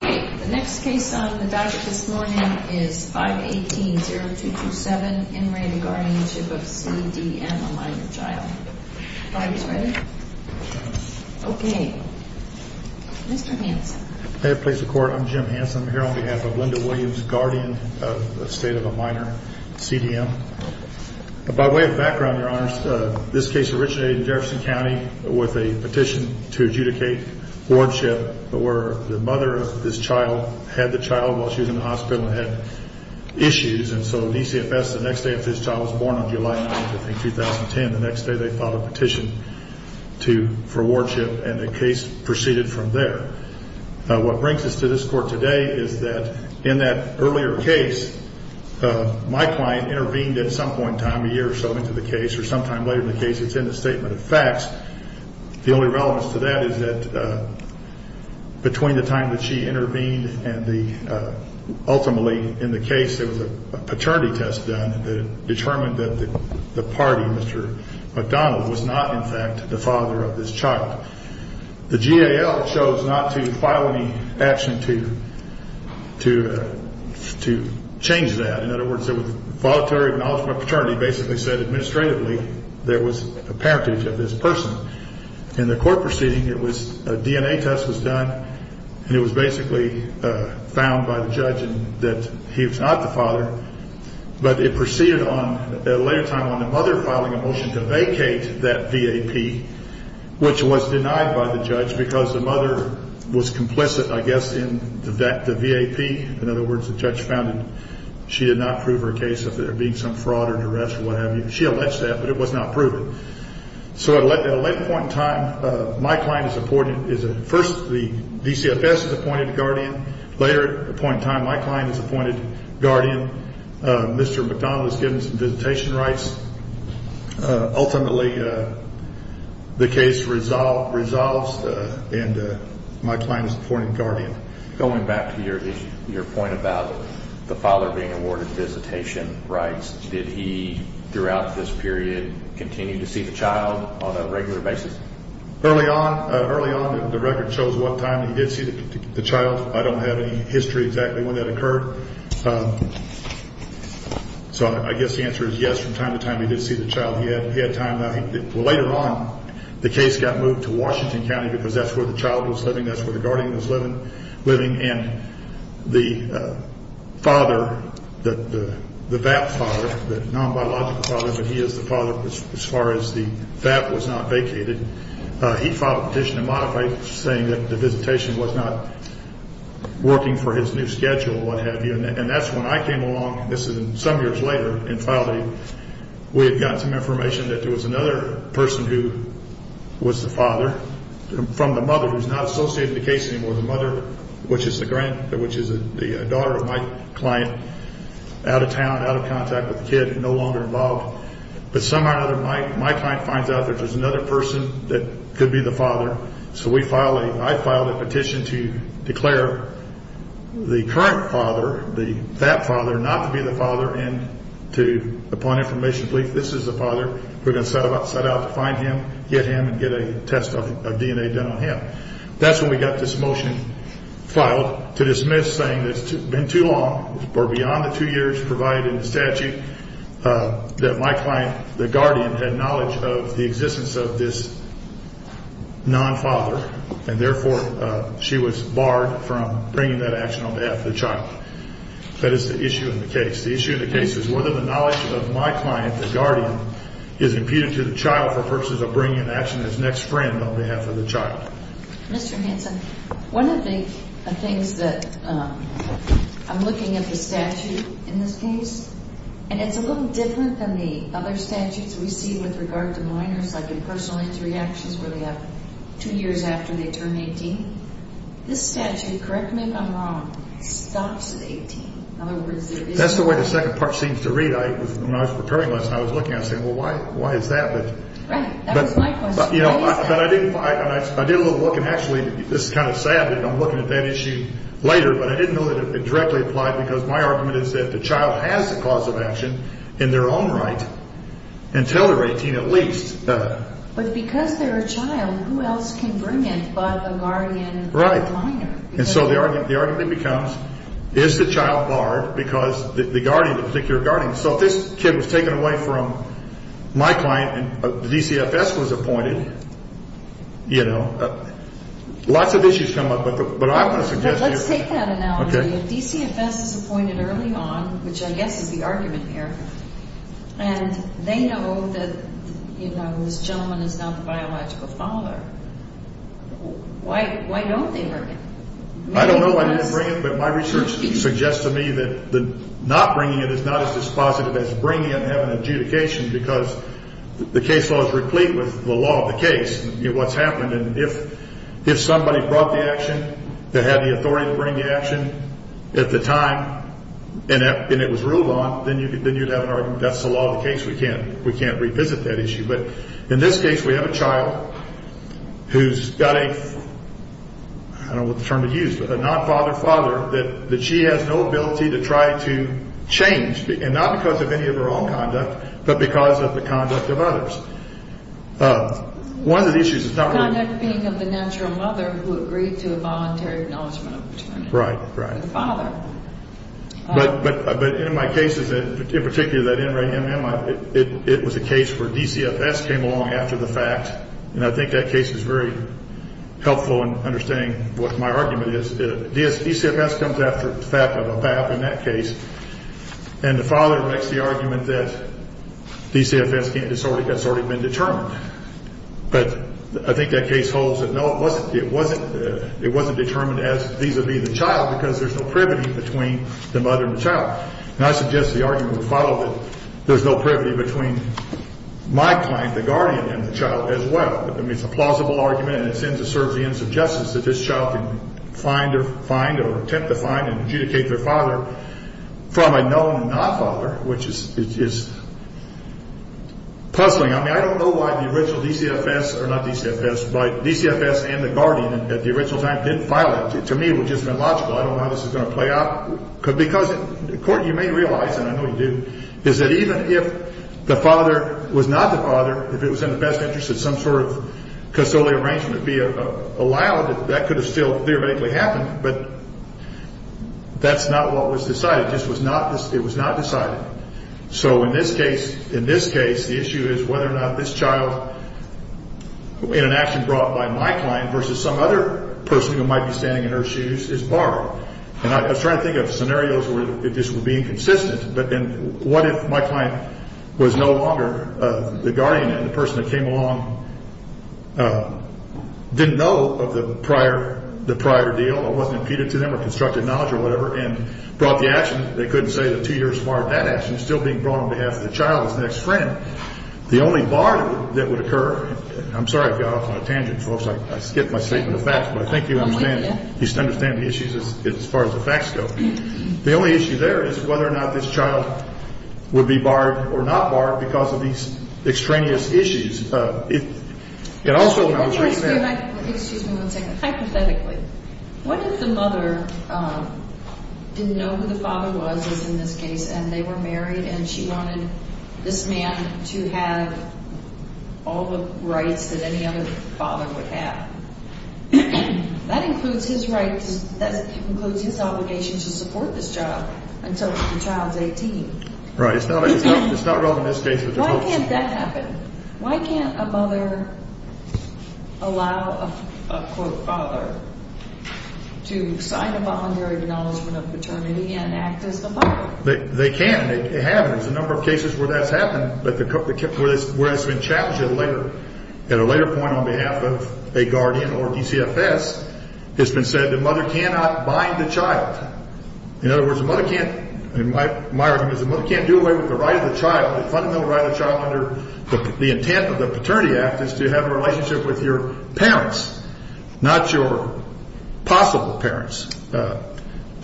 The next case on the docket this morning is 518-0227. In re the guardianship of C. D. M. A minor child. Are you guys ready? Okay. Mr. Hanson. May it please the court, I'm Jim Hanson. I'm here on behalf of Linda Williams, guardian of the state of a minor, C. D. M. By way of background, your honors, this case originated in Jefferson County with a petition to adjudicate Wardship where the mother of this child had the child while she was in the hospital and had issues. And so DCFS, the next day after this child was born on July 9th, I think, 2010, the next day they filed a petition for wardship and the case proceeded from there. What brings us to this court today is that in that earlier case, my client intervened at some point in time, a year or so into the case or sometime later in the case. It's in the statement of facts. The only relevance to that is that between the time that she intervened and the ultimately in the case, there was a paternity test done that determined that the party, Mr. McDonald, was not, in fact, the father of this child. The GAO chose not to file any action to to to change that. In other words, it was voluntary acknowledgement paternity basically said administratively there was a parentage of this person in the court proceeding. It was a DNA test was done and it was basically found by the judge that he was not the father. But it proceeded on a later time on the mother filing a motion to vacate that V.A.P., which was denied by the judge because the mother was complicit, I guess, in that the V.A.P. In other words, the judge found that she did not prove her case of there being some fraud or duress or what have you. She alleged that, but it was not proven. So at a later point in time, my client is appointed is first the DCFS is appointed guardian. Later point in time, my client is appointed guardian. Mr. McDonald has given some visitation rights. Ultimately, the case resolved, resolves, and my client is appointed guardian. Going back to your your point about the father being awarded visitation rights, did he throughout this period continue to see the child on a regular basis early on? Early on, the record shows what time he did see the child. I don't have any history exactly when that occurred. So I guess the answer is yes. From time to time, he did see the child. He had time. Later on, the case got moved to Washington County because that's where the child was living. That's where the guardian was living. And the father, the V.A.P. father, the non-biological father, but he is the father as far as the V.A.P. was not vacated, he filed a petition to modify it, saying that the visitation was not working for his new schedule or what have you. And that's when I came along, this is some years later, and filed a, we had gotten some information that there was another person who was the father from the mother who's not associated with the case anymore. The mother, which is the grand, which is the daughter of my client, out of town, out of contact with the kid, no longer involved. But somehow or another, my client finds out that there's another person that could be the father. So we filed a, I filed a petition to declare the current father, the V.A.P. father, not to be the father, and to, upon information, please, this is the father. We're going to set out to find him, get him, and get a test of DNA done on him. That's when we got this motion filed to dismiss, saying it's been too long or beyond the two years provided in the statute that my client, the guardian, had knowledge of the existence of this non-father, and therefore, she was barred from bringing that action on behalf of the child. That is the issue in the case. The issue in the case is whether the knowledge of my client, the guardian, is imputed to the child for purposes of bringing an action to his next friend on behalf of the child. Mr. Hanson, one of the things that, I'm looking at the statute in this case, and it's a little different than the other statutes we see with regard to minors, like impersonal injury actions where they have two years after they turn 18. This statute, correct me if I'm wrong, stops at 18. In other words, there is no... That's the way the second part seems to read. When I was preparing this, I was looking, I was saying, well, why is that? But... Right. That was my question. But, you know, I didn't, I did a little look, and actually, this is kind of sad, and I'm looking at that issue later, but I didn't know that it directly applied, because my argument is that the child has a cause of action in their own right until they're 18 at least. But because they're a child, who else can bring it but a guardian or a minor? Right. And so the argument becomes, is the child barred because the guardian, the particular guardian... So if this kid was taken away from my client, and the DCFS was appointed, you know, lots of issues come up, but I'm going to suggest... Let's take that analogy. If DCFS is appointed early on, which I guess is the argument here, and they know that, you know, this gentleman is not the biological father, why don't they bring it? I don't know why they didn't bring it, but my research suggests to me that not bringing it is not as dispositive as bringing it and having adjudication, because the case law is replete with the law of the case, you know, what's happened, and if somebody brought the action, they had the authority to bring the action at the time, and it was ruled on, then you'd have an argument, that's the law of the case, we can't revisit that issue. But in this case, we have a child who's got a... I don't know what term to use, but a non-father-father that she has no ability to try to change, and not because of any of her own conduct, but because of the conduct of others. One of the issues is not really... Conduct being of the natural mother who agreed to a voluntary acknowledgment of paternity. Right, right. The father. But in my cases, in particular that NRAMM, it was a case where DCFS came along after the fact, and I think that case is very helpful in understanding what my argument is. DCFS comes after the fact of a BAP in that case, and the father makes the argument that DCFS has already been determined. But I think that case holds that, no, it wasn't determined as these would be the child because there's no privity between the mother and the child. And I suggest the argument would follow that there's no privity between my client, the guardian, and the child as well. I mean, it's a plausible argument, and it serves the ends of justice that this child can find or attempt to find and adjudicate their father from a known non-father, which is puzzling. I mean, I don't know why the original DCFS, or not DCFS, but DCFS and the guardian at the original time didn't file it. To me, it would have just been logical. I don't know how this is going to play out. Because, Court, you may realize, and I know you do, is that even if the father was not the father, if it was in the best interest of some sort of custodial arrangement to be allowed, that could have still theoretically happened. But that's not what was decided. It was not decided. So in this case, the issue is whether or not this child, in an action brought by my client versus some other person who might be standing in her shoes, is borrowed. And I was trying to think of scenarios where this would be consistent. But then what if my client was no longer the guardian and the person that came along didn't know of the prior deal or wasn't imputed to them or constructed knowledge or whatever and brought the action, they couldn't say that two years prior to that action, still being brought on behalf of the child's next friend. The only bar that would occur, I'm sorry I got off on a tangent, folks. I skipped my statement of facts. But I think you understand the issues as far as the facts go. The only issue there is whether or not this child would be borrowed or not borrowed because of these extraneous issues. And also when I was reading that. Excuse me one second. Hypothetically, what if the mother didn't know who the father was, as in this case, and they were married and she wanted this man to have all the rights that any other father would have? That includes his rights. That includes his obligation to support this job until the child's 18. Right. It's not relevant in this case. Why can't that happen? Why can't a mother allow a, quote, father to sign a voluntary acknowledgement of paternity and act as the father? They can. They have. There's a number of cases where that's happened, but where it's been challenged at a later point on behalf of a guardian or DCFS, it's been said the mother cannot bind the child. In other words, the mother can't, in my argument, because the mother can't do away with the right of the child, the fundamental right of the child under the intent of the Paternity Act is to have a relationship with your parents, not your possible parents.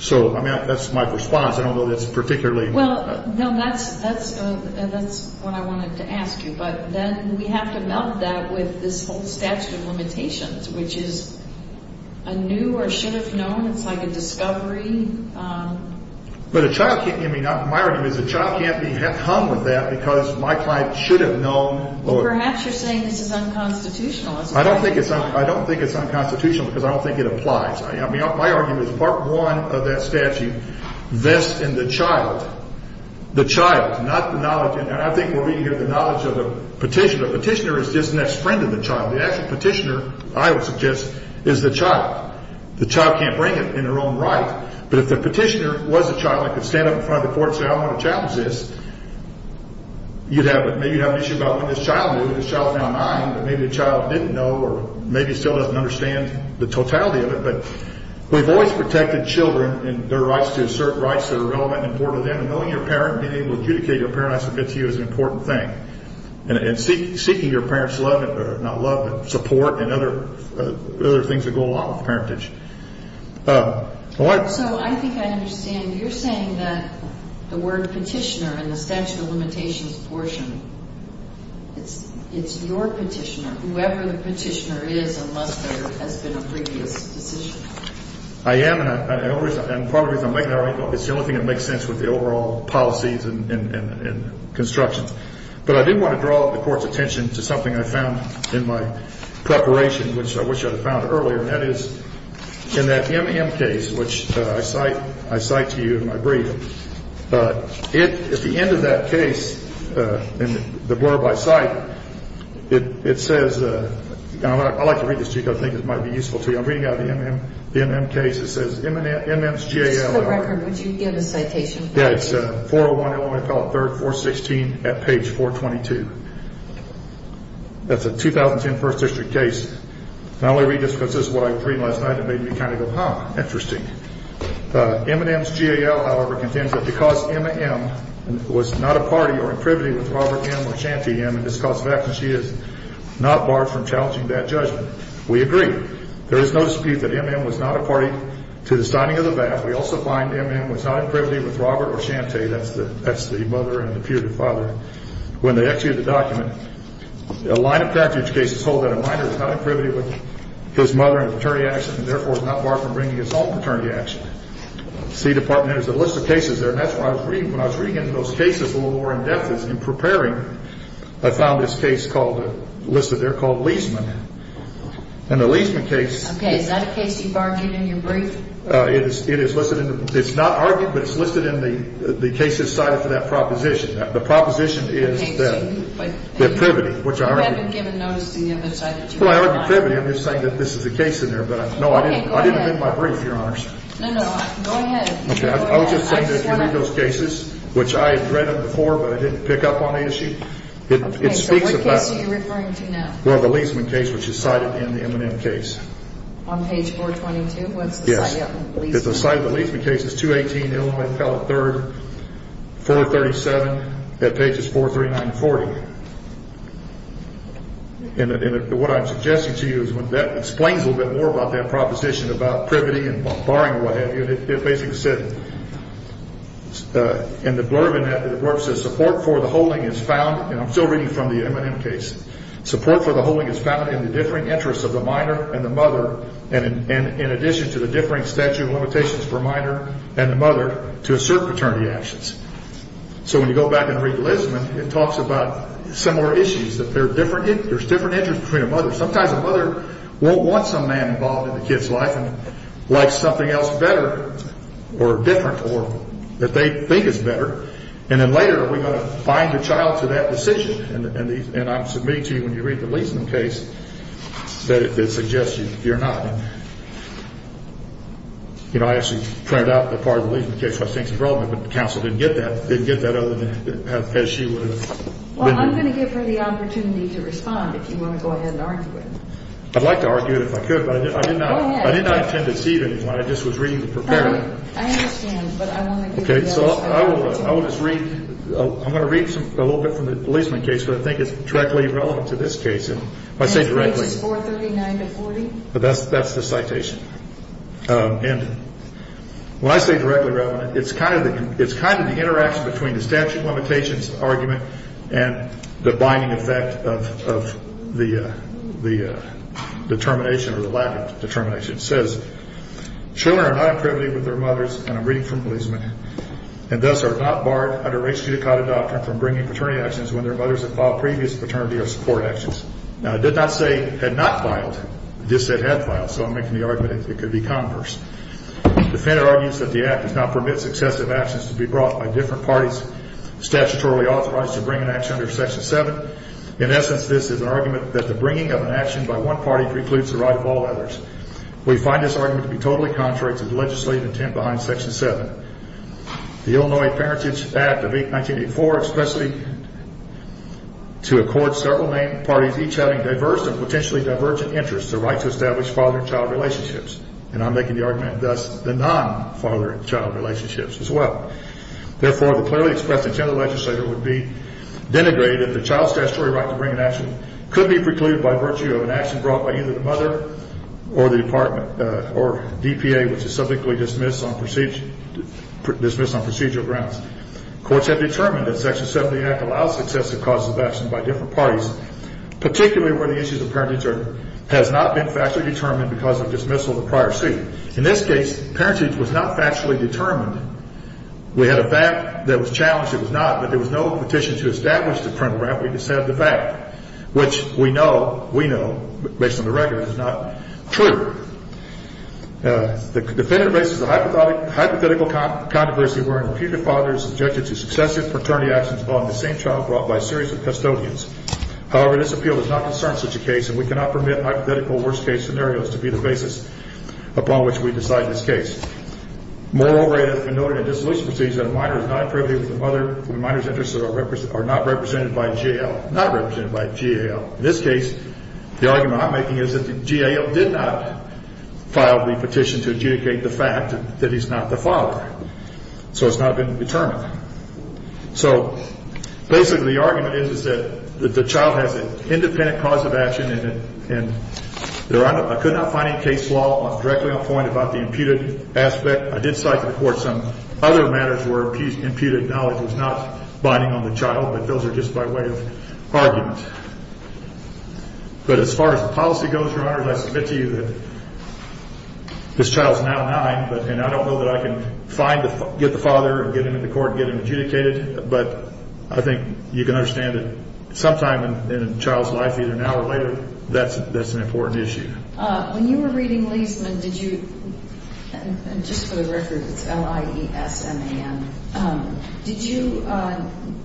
So, I mean, that's my response. I don't know that it's particularly. Well, no, that's what I wanted to ask you. But then we have to melt that with this whole statute of limitations, which is a new or should have known. It's like a discovery. But a child can't, I mean, my argument is a child can't be hung with that because my client should have known. Well, perhaps you're saying this is unconstitutional. I don't think it's unconstitutional because I don't think it applies. I mean, my argument is part one of that statute vests in the child, the child, not the knowledge. And I think we're being given the knowledge of the petitioner. The petitioner is just the next friend of the child. The actual petitioner, I would suggest, is the child. The child can't bring it in their own right. But if the petitioner was a child and could stand up in front of the court and say, I don't want a child to exist, you'd have an issue about when this child knew. This child is now nine, but maybe the child didn't know or maybe still doesn't understand the totality of it. But we've always protected children and their rights to assert rights that are relevant and important to them. And knowing your parent and being able to adjudicate your parents against you is an important thing. And seeking your parent's love, not love, but support and other things that go along with parentage. So I think I understand. You're saying that the word petitioner in the statute of limitations portion, it's your petitioner, whoever the petitioner is unless there has been a previous decision. I am, and part of the reason I'm making that argument, it's the only thing that makes sense with the overall policies and construction. But I did want to draw the court's attention to something I found in my preparation, which I wish I had found earlier, and that is in that M.M. case, which I cite to you in my brief. At the end of that case, in the blurb I cite, it says, and I'd like to read this to you because I think it might be useful to you. I'm reading out of the M.M. case. It says M.M.'s J.A.L. What's the record? Would you give a citation? Yeah, it's 401 Illinois Appellate 3rd, 416 at page 422. That's a 2010 First District case. Not only read this because this is what I was reading last night, it made me kind of go, huh, interesting. M.M.'s J.A.L., however, contends that because M.M. was not a party or in privity with Robert M. or Shantay M. in this cause of action, she is not barred from challenging that judgment. We agree. There is no dispute that M.M. was not a party to the signing of the VAT. We also find M.M. was not in privity with Robert or Shantay. That's the mother and the peer to father. When they executed the document, a line of package cases hold that a minor is not in privity with his mother in a paternity action and, therefore, is not barred from bringing his own paternity action. The C.E. Department has a list of cases there, and that's what I was reading. When I was reading into those cases a little more in depth in preparing, I found this case listed there called Leaseman. And the Leaseman case Okay, is that a case you've argued in your brief? It's not argued, but it's listed in the cases cited for that proposition. The proposition is that the privity, which I argue You haven't given notice to the other side of the jury. Well, I argue privity. I'm just saying that this is a case in there. Okay, go ahead. No, I didn't amend my brief, Your Honors. No, no, go ahead. Okay, I was just saying that if you read those cases, which I had read them before, but I didn't pick up on the issue, it speaks about Okay, so what case are you referring to now? Well, the Leaseman case, which is cited in the M.M. case. On page 422? Yes. What's the site of the Leaseman case? It's the site of the Leaseman case. It's 218 Illinois Appellate 3rd, 437 at pages 439 and 440. And what I'm suggesting to you is when that explains a little bit more about that proposition about privity and barring or what have you, it basically said In the blurb in that, the blurb says, support for the holding is found And I'm still reading from the M.M. case. Support for the holding is found in the differing interests of the minor and the mother In addition to the differing statute of limitations for minor and the mother to assert paternity actions. So when you go back and read the Leaseman, it talks about similar issues, that there's different interests between a mother. Sometimes a mother won't want some man involved in the kid's life and likes something else better or different or that they think is better. And then later, are we going to bind the child to that decision? And I'm submitting to you, when you read the Leaseman case, that it suggests you're not. You know, I actually printed out the part of the Leaseman case where I think it's relevant, but the counsel didn't get that. Didn't get that other than as she would have been doing. Well, I'm going to give her the opportunity to respond if you want to go ahead and argue it. I'd like to argue it if I could, but I did not intend to deceive anyone. I just was reading the preparatory. I understand, but I want to give you the opportunity. Okay, so I will just read, I'm going to read a little bit from the Leaseman case, but I think it's directly relevant to this case. If I say directly. Case 439-40. That's the citation. And when I say directly relevant, it's kind of the interaction between the statute of limitations argument and the binding effect of the determination or the latter determination. It says, children are not imprivileged with their mothers, and I'm reading from Leaseman, and thus are not barred under race judicata doctrine from bringing paternity actions when their mothers have filed previous paternity or support actions. Now, it did not say had not filed. It just said had filed, so I'm making the argument it could be converse. Defender argues that the act does not permit successive actions to be brought by different parties statutorily authorized to bring an action under Section 7. In essence, this is an argument that the bringing of an action by one party precludes the right of all others. We find this argument to be totally contrary to the legislative intent behind Section 7. The Illinois Parentage Act of 1984 expressly to accord several named parties, each having diverse and potentially divergent interests, the right to establish father-child relationships. And I'm making the argument thus the non-father-child relationships as well. Therefore, the clearly expressed intent of the legislature would be denigrated if the child statutory right to bring an action could be precluded by virtue of an action brought by either the mother or the department or DPA, which is subjectly dismissed on procedural grounds. Courts have determined that Section 7 of the act allows successive causes of action by different parties, particularly where the issues of parentage has not been factually determined because of dismissal of the prior seat. In this case, parentage was not factually determined. We had a fact that was challenged. It was not. But there was no petition to establish the parental right. We just have the fact, which we know, we know, based on the record, is not true. The definitive basis of the hypothetical controversy wherein the future father is subjected to successive paternity actions upon the same child brought by a series of custodians. However, this appeal does not concern such a case, and we cannot permit hypothetical worst-case scenarios to be the basis upon which we decide this case. Moreover, it has been noted in dissolution proceedings that a minor is not privy to the mother when minor's interests are not represented by a GAL. Not represented by a GAL. In this case, the argument I'm making is that the GAL did not file the petition to adjudicate the fact that he's not the father. So it's not been determined. So basically the argument is that the child has an independent cause of action, and I could not find any case law directly on point about the imputed aspect. I did cite to the court some other matters where imputed knowledge was not binding on the child, but those are just by way of argument. But as far as the policy goes, Your Honor, I submit to you that this child is now nine, and I don't know that I can get the father or get him into court and get him adjudicated, but I think you can understand that sometime in a child's life, either now or later, that's an important issue. When you were reading Leisman, did you – and just for the record, it's L-I-E-S-M-A-N – did you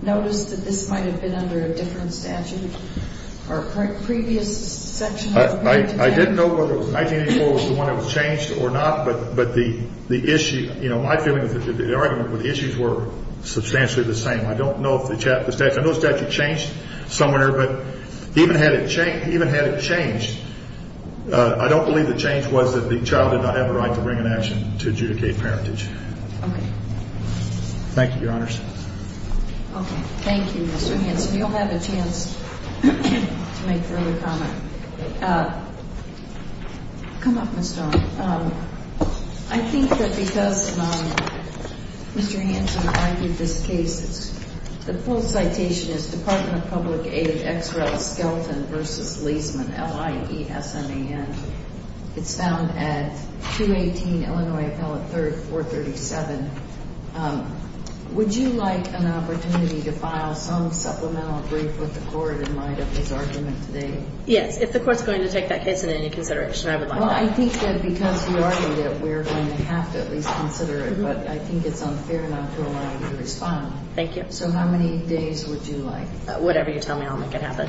notice that this might have been under a different statute or a previous section of the parenting statute? I didn't know whether it was 1984 was the one that was changed or not, but the issue – you know, my feeling is that the argument with the issues were substantially the same. I don't know if the statute – I know the statute changed somewhere, but even had it changed, I don't believe the change was that the child did not have a right to bring an action to adjudicate parentage. Okay. Thank you, Your Honors. Okay. Thank you, Mr. Hanson. You'll have a chance to make further comment. Come up, Ms. Stone. I think that because Mr. Hanson argued this case, the full citation is Department of Public Aid, Ex Rel, Skelton v. Leisman, L-I-E-S-M-A-N. It's found at 218 Illinois Appellate 3rd, 437. Would you like an opportunity to file some supplemental brief with the court in light of his argument today? Yes. If the court's going to take that case into any consideration, I would like that. Well, I think that because you argued it, we're going to have to at least consider it, but I think it's unfair not to allow you to respond. Thank you. So how many days would you like? Whatever you tell me, I'll make it happen.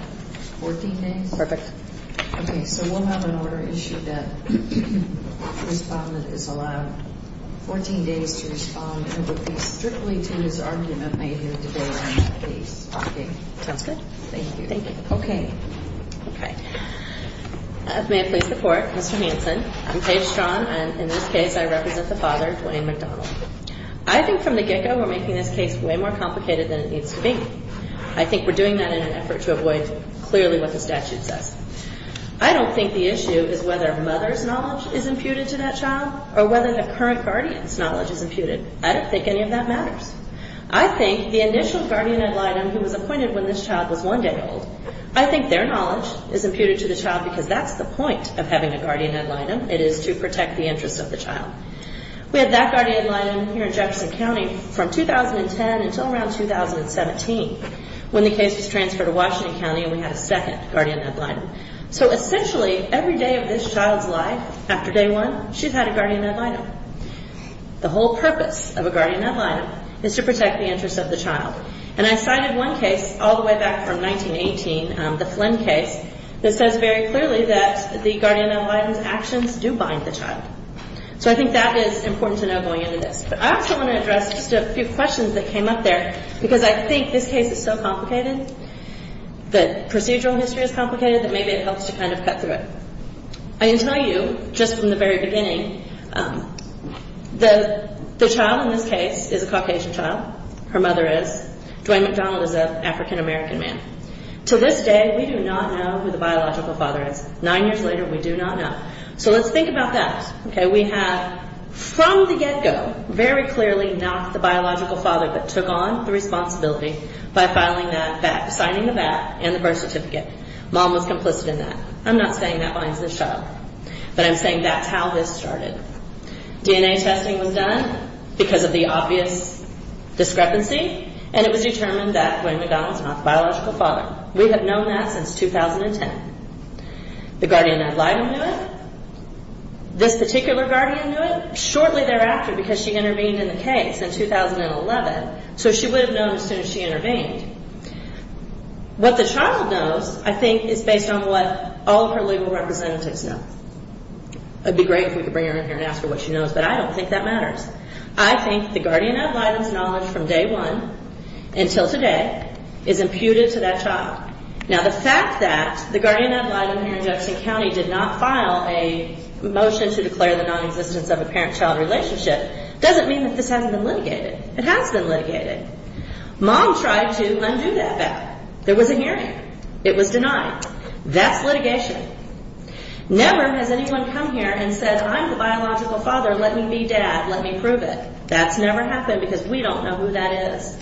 Fourteen days? Perfect. Okay. So we'll have an order issued that respondent is allowed 14 days to respond and will speak strictly to his argument made here today on that case. Okay. Sounds good. Thank you. Okay. Okay. May it please the Court, Mr. Hanson, I'm Paige Strong, and in this case I represent the father, Dwayne McDonald. I think from the get-go we're making this case way more complicated than it needs to be. I think we're doing that in an effort to avoid clearly what the statute says. I don't think the issue is whether a mother's knowledge is imputed to that child or whether the current guardian's knowledge is imputed. I don't think any of that matters. I think the initial guardian ad litem who was appointed when this child was one day old, I think their knowledge is imputed to the child because that's the point of having a guardian ad litem. It is to protect the interest of the child. We had that guardian ad litem here in Jefferson County from 2010 until around 2017 when the case was transferred to Washington County and we had a second guardian ad litem. So essentially every day of this child's life after day one, she'd had a guardian ad litem. The whole purpose of a guardian ad litem is to protect the interest of the child. And I cited one case all the way back from 1918, the Flynn case, that says very clearly that the guardian ad litem's actions do bind the child. So I think that is important to know going into this. But I also want to address just a few questions that came up there because I think this case is so complicated, the procedural history is complicated, that maybe it helps to kind of cut through it. I need to tell you, just from the very beginning, the child in this case is a Caucasian child. Her mother is. Dwayne McDonald is an African-American man. To this day, we do not know who the biological father is. Nine years later, we do not know. So let's think about that. We have, from the get-go, very clearly knocked the biological father, but took on the responsibility by signing the VAT and the birth certificate. Mom was complicit in that. I'm not saying that binds the child, but I'm saying that's how this started. DNA testing was done because of the obvious discrepancy, and it was determined that Dwayne McDonald is not the biological father. We have known that since 2010. The guardian ad litem knew it. This particular guardian knew it shortly thereafter because she intervened in the case in 2011, so she would have known as soon as she intervened. What the child knows, I think, is based on what all of her legal representatives know. It would be great if we could bring her in here and ask her what she knows, but I don't think that matters. I think the guardian ad litem's knowledge from day one until today is imputed to that child. Now, the fact that the guardian ad litem here in Jefferson County did not file a motion to declare the non-existence of a parent-child relationship doesn't mean that this hasn't been litigated. It has been litigated. Mom tried to undo that back. There was a hearing. It was denied. That's litigation. Never has anyone come here and said, I'm the biological father, let me be dad, let me prove it. That's never happened because we don't know who that is.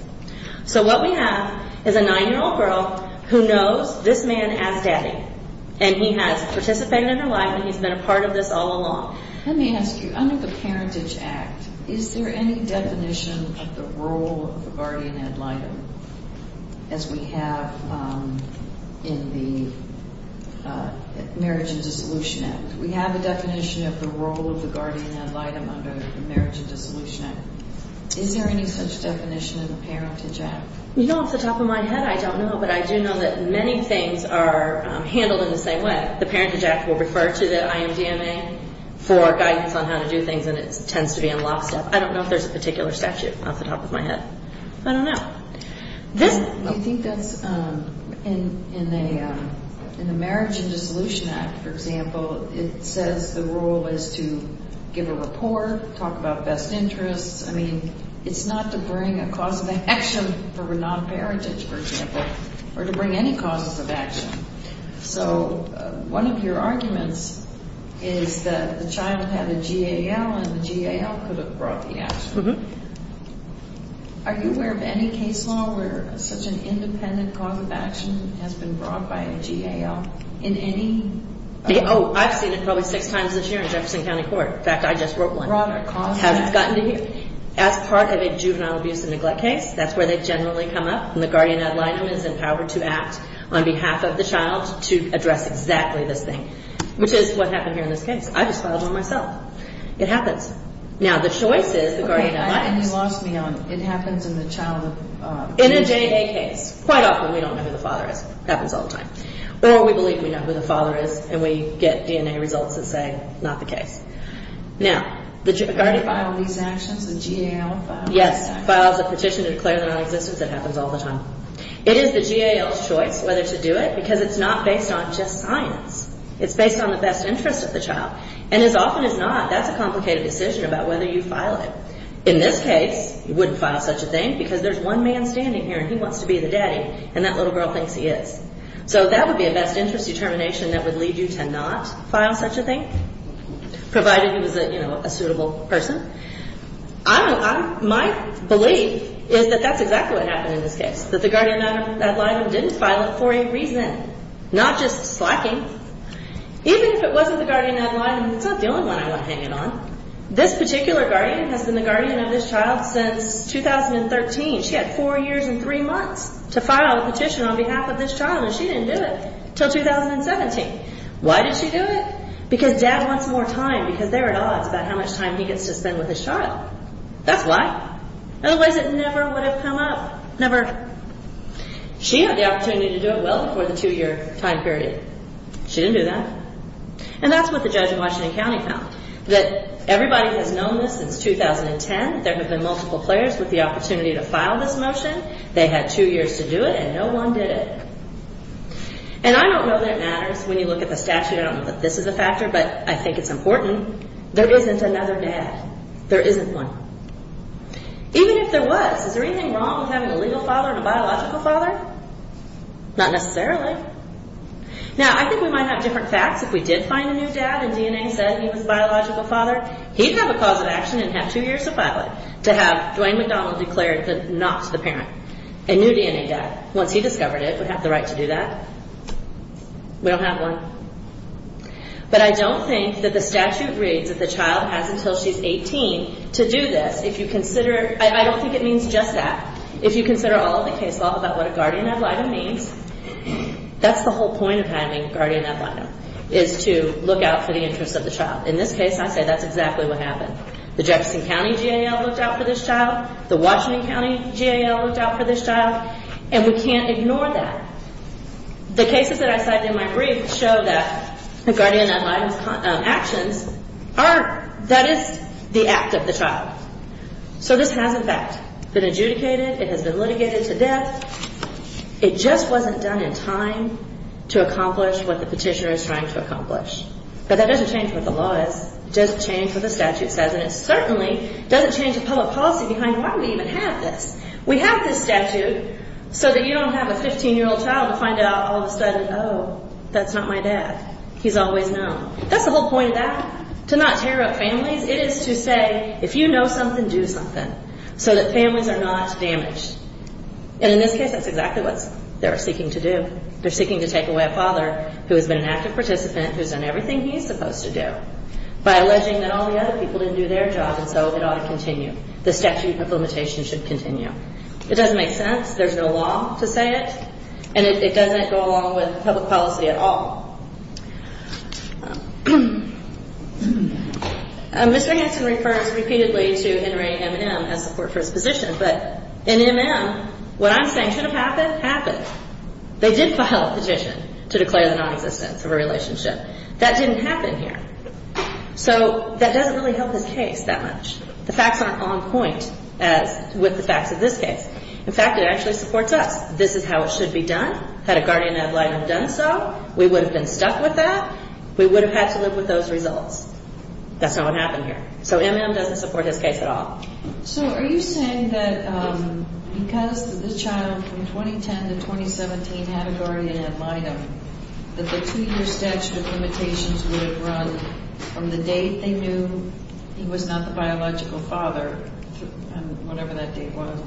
So what we have is a 9-year-old girl who knows this man as daddy, and he has participated in her life and he's been a part of this all along. Let me ask you, under the Parentage Act, is there any definition of the role of the guardian ad litem as we have in the Marriage and Dissolution Act? We have a definition of the role of the guardian ad litem under the Marriage and Dissolution Act. Is there any such definition in the Parentage Act? Off the top of my head, I don't know, but I do know that many things are handled in the same way. The Parentage Act will refer to the IMDMA for guidance on how to do things, and it tends to be in lockstep. I don't know if there's a particular statute off the top of my head. I don't know. I think that's in the Marriage and Dissolution Act, for example, it says the role is to give a report, talk about best interests. I mean, it's not to bring a cause of action for non-parentage, for example, or to bring any causes of action. So one of your arguments is that the child had a GAL, and the GAL could have brought the action. Are you aware of any case law where such an independent cause of action has been brought by a GAL in any? Oh, I've seen it probably six times this year in Jefferson County Court. In fact, I just wrote one. As part of a juvenile abuse and neglect case, that's where they generally come up. And the guardian ad litem is empowered to act on behalf of the child to address exactly this thing, which is what happened here in this case. I just filed one myself. It happens. Now, the choice is the guardian ad litem. Okay, and you lost me on it happens in the child. In a JA case, quite often we don't know who the father is. It happens all the time. Or we believe we know who the father is, and we get DNA results that say not the case. Now, the guardian ad litem. Do you file these actions, a GAL file? Yes. Files a petition to declare them non-existent. It happens all the time. It is the GAL's choice whether to do it because it's not based on just science. It's based on the best interest of the child. And as often as not, that's a complicated decision about whether you file it. In this case, you wouldn't file such a thing because there's one man standing here, and he wants to be the daddy, and that little girl thinks he is. So that would be a best interest determination that would lead you to not file such a thing, provided he was a suitable person. My belief is that that's exactly what happened in this case, that the guardian ad litem didn't file it for a reason, not just slacking. Even if it wasn't the guardian ad litem, it's not the only one I went hanging on. This particular guardian has been the guardian of this child since 2013. She had four years and three months to file a petition on behalf of this child, and she didn't do it until 2017. Why did she do it? Because dad wants more time, because they're at odds about how much time he gets to spend with his child. That's why. Otherwise, it never would have come up. Never. She had the opportunity to do it well before the two-year time period. She didn't do that. And that's what the judge in Washington County found, that everybody has known this since 2010. There have been multiple players with the opportunity to file this motion. They had two years to do it, and no one did it. And I don't know that it matters when you look at the statute. I don't know that this is a factor, but I think it's important. There isn't another dad. There isn't one. Even if there was, is there anything wrong with having a legal father and a biological father? Not necessarily. Now, I think we might have different facts. If we did find a new dad and DNA said he was a biological father, he'd have a cause of action and have two years to file it, to have Duane McDonald declare not the parent. A new DNA dad, once he discovered it, would have the right to do that. We don't have one. But I don't think that the statute reads that the child has until she's 18 to do this. If you consider it, I don't think it means just that. If you consider all of the case law about what a guardian ad litem means, that's the whole point of having a guardian ad litem, is to look out for the interest of the child. In this case, I say that's exactly what happened. The Jefferson County GAL looked out for this child. The Washington County GAL looked out for this child. And we can't ignore that. The cases that I cited in my brief show that the guardian ad litem actions are, that is the act of the child. So this has, in fact, been adjudicated. It has been litigated to death. It just wasn't done in time to accomplish what the petitioner is trying to accomplish. But that doesn't change what the law is. It doesn't change what the statute says. And it certainly doesn't change the public policy behind why we even have this. We have this statute so that you don't have a 15-year-old child to find out all of a sudden, oh, that's not my dad. He's always known. That's the whole point of that, to not tear up families. It is to say, if you know something, do something, so that families are not damaged. And in this case, that's exactly what they're seeking to do. They're seeking to take away a father who has been an active participant, who's done everything he's supposed to do, by alleging that all the other people didn't do their job, and so it ought to continue. The statute of limitation should continue. It doesn't make sense. There's no law to say it. And it doesn't go along with public policy at all. Mr. Hanson refers repeatedly to NRA MM as support for his position. But in MM, what I'm saying should have happened, happened. They did file a petition to declare the nonexistence of a relationship. That didn't happen here. So that doesn't really help his case that much. The facts aren't on point with the facts of this case. In fact, it actually supports us. This is how it should be done. Had a guardian ad litem done so, we would have been stuck with that. We would have had to live with those results. That's not what happened here. So MM doesn't support his case at all. So are you saying that because this child from 2010 to 2017 had a guardian ad litem, that the two-year statute of limitations would have run from the date they knew he was not the biological father, whatever that date was,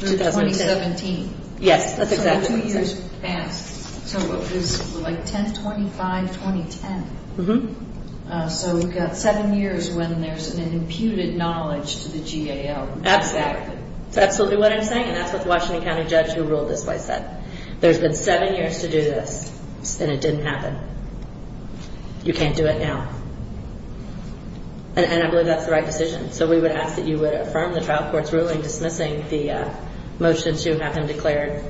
to 2017? Yes, that's exactly what I'm saying. So two years passed. So it was like 10-25-2010. Mm-hmm. So we've got seven years when there's an imputed knowledge to the GAL. Absolutely. That's absolutely what I'm saying. And that's what the Washington County judge who ruled this way said. There's been seven years to do this, and it didn't happen. You can't do it now. And I believe that's the right decision. So we would ask that you would affirm the trial court's ruling dismissing the motion to have him declare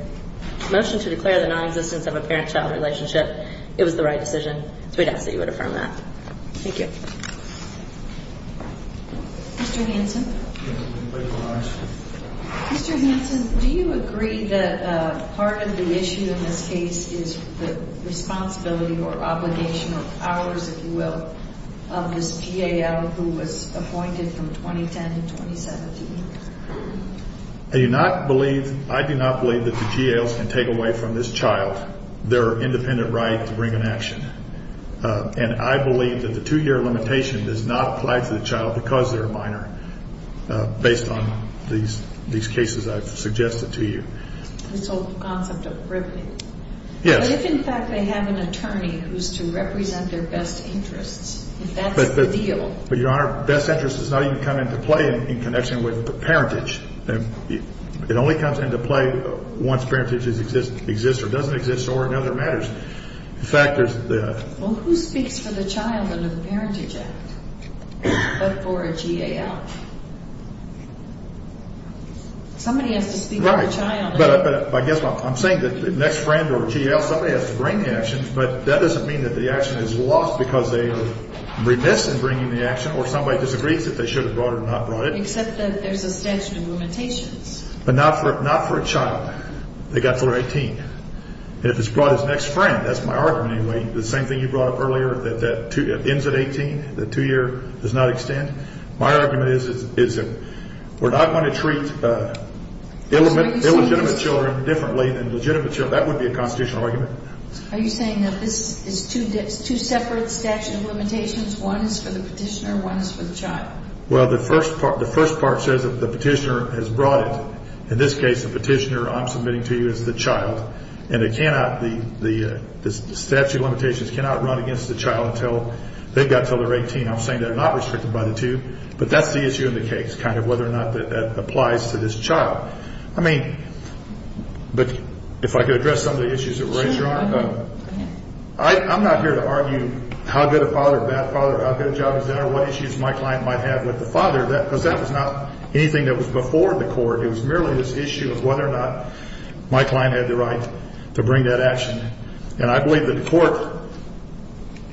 the non-existence of a parent-child relationship. It was the right decision. So we'd ask that you would affirm that. Thank you. Mr. Hanson? Mr. Hanson, do you agree that part of the issue in this case is the responsibility or obligation or powers, if you will, of this GAL who was appointed from 2010 to 2017? I do not believe that the GALs can take away from this child their independent right to bring an action. And I believe that the two-year limitation does not apply to the child because they're a minor based on these cases I've suggested to you. This whole concept of riveting. But if, in fact, they have an attorney who's to represent their best interests, if that's the deal. But, Your Honor, best interests does not even come into play in connection with parentage. It only comes into play once parentage exists or doesn't exist or in other matters. In fact, there's the... Well, who speaks for the child under the Parentage Act but for a GAL? Somebody has to speak for the child. Right, but I guess I'm saying that the next friend or GAL, somebody has to bring the action, but that doesn't mean that the action is lost because they are remiss in bringing the action or somebody disagrees that they should have brought it or not brought it. Except that there's a statute of limitations. But not for a child. They've got until they're 18. And if it's brought as an ex-friend, that's my argument anyway. The same thing you brought up earlier that ends at 18, the two-year does not extend. My argument is that we're not going to treat illegitimate children differently than legitimate children. That would be a constitutional argument. Are you saying that this is two separate statute of limitations? One is for the petitioner, one is for the child? Well, the first part says that the petitioner has brought it. In this case, the petitioner I'm submitting to you is the child. And it cannot, the statute of limitations cannot run against the child until they've got until they're 18. I'm saying they're not restricted by the two. But that's the issue in the case, kind of whether or not that applies to this child. I mean, but if I could address some of the issues that were raised, Your Honor. I'm not here to argue how good a father, bad father, how good a job he's done or what issues my client might have with the father because that was not anything that was before the court. It was merely this issue of whether or not my client had the right to bring that action. And I believe that the court,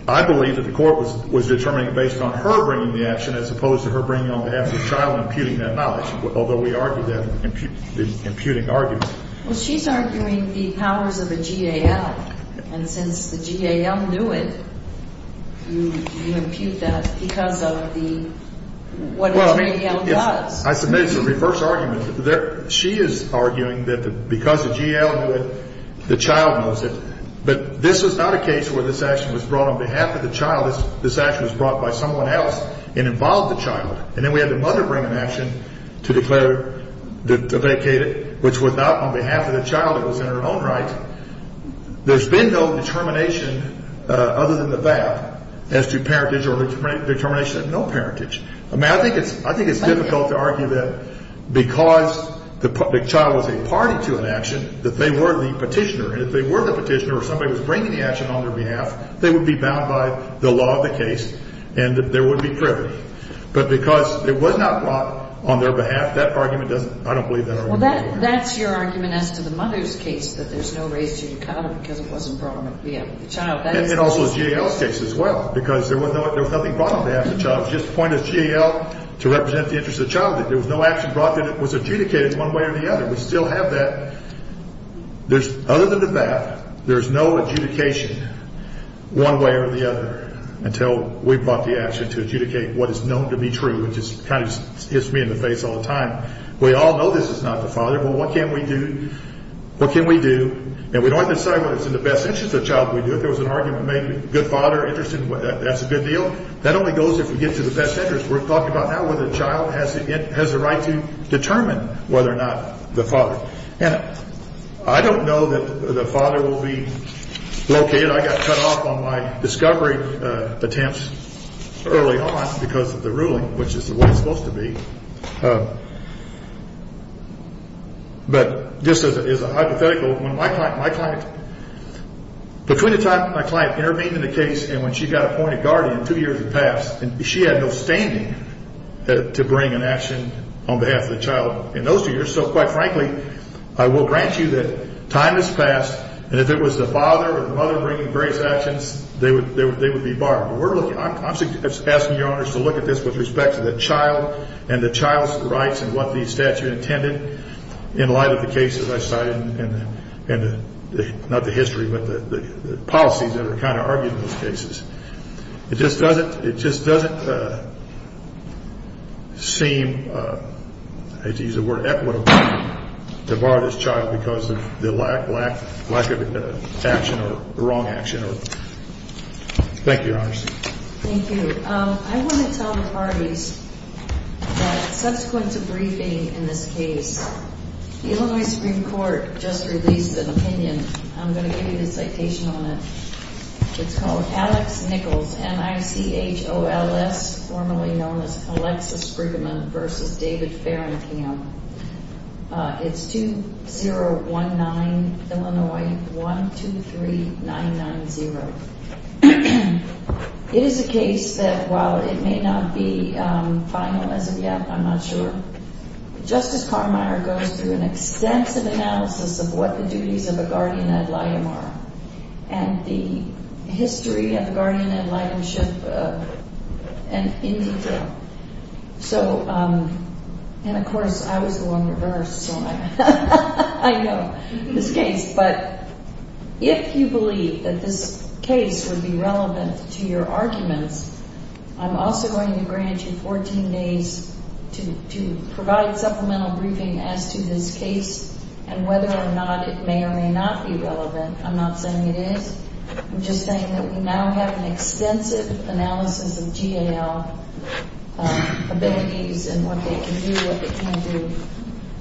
I believe that the court was determining based on her bringing the action as opposed to her bringing it on behalf of the child and imputing that knowledge, although we argued that in the imputing argument. Well, she's arguing the powers of a GAL. And since the GAL knew it, you impute that because of the, what a GAL does. I submit it's a reverse argument. She is arguing that because the GAL knew it, the child knows it. But this was not a case where this action was brought on behalf of the child. This action was brought by someone else and involved the child. And then we had the mother bring an action to declare, to vacate it, which was not on behalf of the child. It was in her own right. There's been no determination other than the VAB as to parentage or determination of no parentage. I mean, I think it's difficult to argue that because the child was a party to an action, that they were the petitioner. And if they were the petitioner or somebody was bringing the action on their behalf, they would be bound by the law of the case and there would be privilege. But because it was not brought on their behalf, that argument doesn't, I don't believe that argument. Well, that's your argument as to the mother's case, that there's no reason to cut them because it wasn't brought on behalf of the child. And also GAL's case as well, because there was nothing brought on behalf of the child. It was just appointed as GAL to represent the interest of the child. There was no action brought that was adjudicated one way or the other. We still have that. Other than the VAB, there's no adjudication one way or the other until we brought the action to adjudicate what is known to be true, which kind of just hits me in the face all the time. We all know this is not the father. Well, what can we do? What can we do? And we don't have to decide what is in the best interest of the child. If there was an argument made, good father, that's a good deal. That only goes if we get to the best interest. We're talking about now whether the child has the right to determine whether or not the father. And I don't know that the father will be located. I got cut off on my discovery attempts early on because of the ruling, which is the way it's supposed to be. But this is a hypothetical. Between the time my client intervened in the case and when she got appointed guardian two years had passed, she had no standing to bring an action on behalf of the child in those two years. So, quite frankly, I will grant you that time has passed. And if it was the father or the mother bringing various actions, they would be barred. I'm asking Your Honors to look at this with respect to the child and the child's rights and what the statute intended in light of the cases I cited and not the history, but the policies that are kind of argued in those cases. It just doesn't seem, I hate to use the word equitable, to bar this child because of the lack of action or the wrong action. Thank you, Your Honors. Thank you. I want to tell the parties that subsequent to briefing in this case, the Illinois Supreme Court just released an opinion. I'm going to give you the citation on it. It's called Alex Nichols, N-I-C-H-O-L-S, formerly known as Alexa Sprigman v. David Farringham. It's 2019, Illinois, 123-990. It is a case that, while it may not be final as of yet, I'm not sure, Justice Carmeier goes through an extensive analysis of what the duties of a guardian ad litem are and the history of a guardian ad litemship in detail. And, of course, I was the one reversed, so I know this case. But if you believe that this case would be relevant to your arguments, I'm also going to grant you 14 days to provide supplemental briefing as to this case and whether or not it may or may not be relevant. I'm not saying it is. I'm just saying that we now have an extensive analysis of GAL abilities and what they can do, what they can't do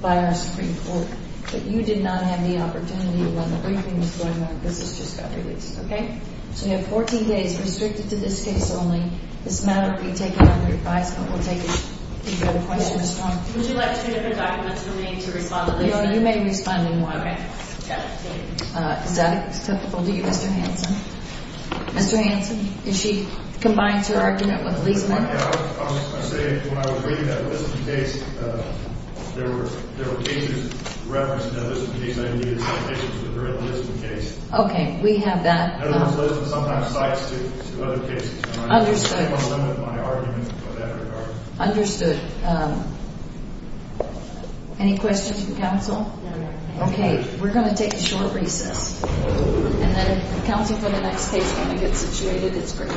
by our Supreme Court. But you did not have the opportunity when the briefing was going on. This has just got released, okay? So you have 14 days restricted to this case only. This matter will be taken under advice, but we'll take it. Do you have a question, Ms. Carmeier? Would you like two different documents from me to respond to Lisa? No, you may respond in one. Okay. Got it. Thank you. Is that acceptable to you, Mr. Hanson? Mr. Hanson, if she combines her argument with Lisa's. I was saying when I was reading that Lisa's case, there were cases referenced in that Lisa's case, and I needed some addition to the very Lisa's case. Okay. We have that. In other words, Lisa sometimes cites to other cases. Understood. I don't want to limit my argument in that regard. Understood. Any questions from counsel? No, ma'am. Okay. We're going to take a short recess. And then if counsel for the next case wants to get situated, it's great.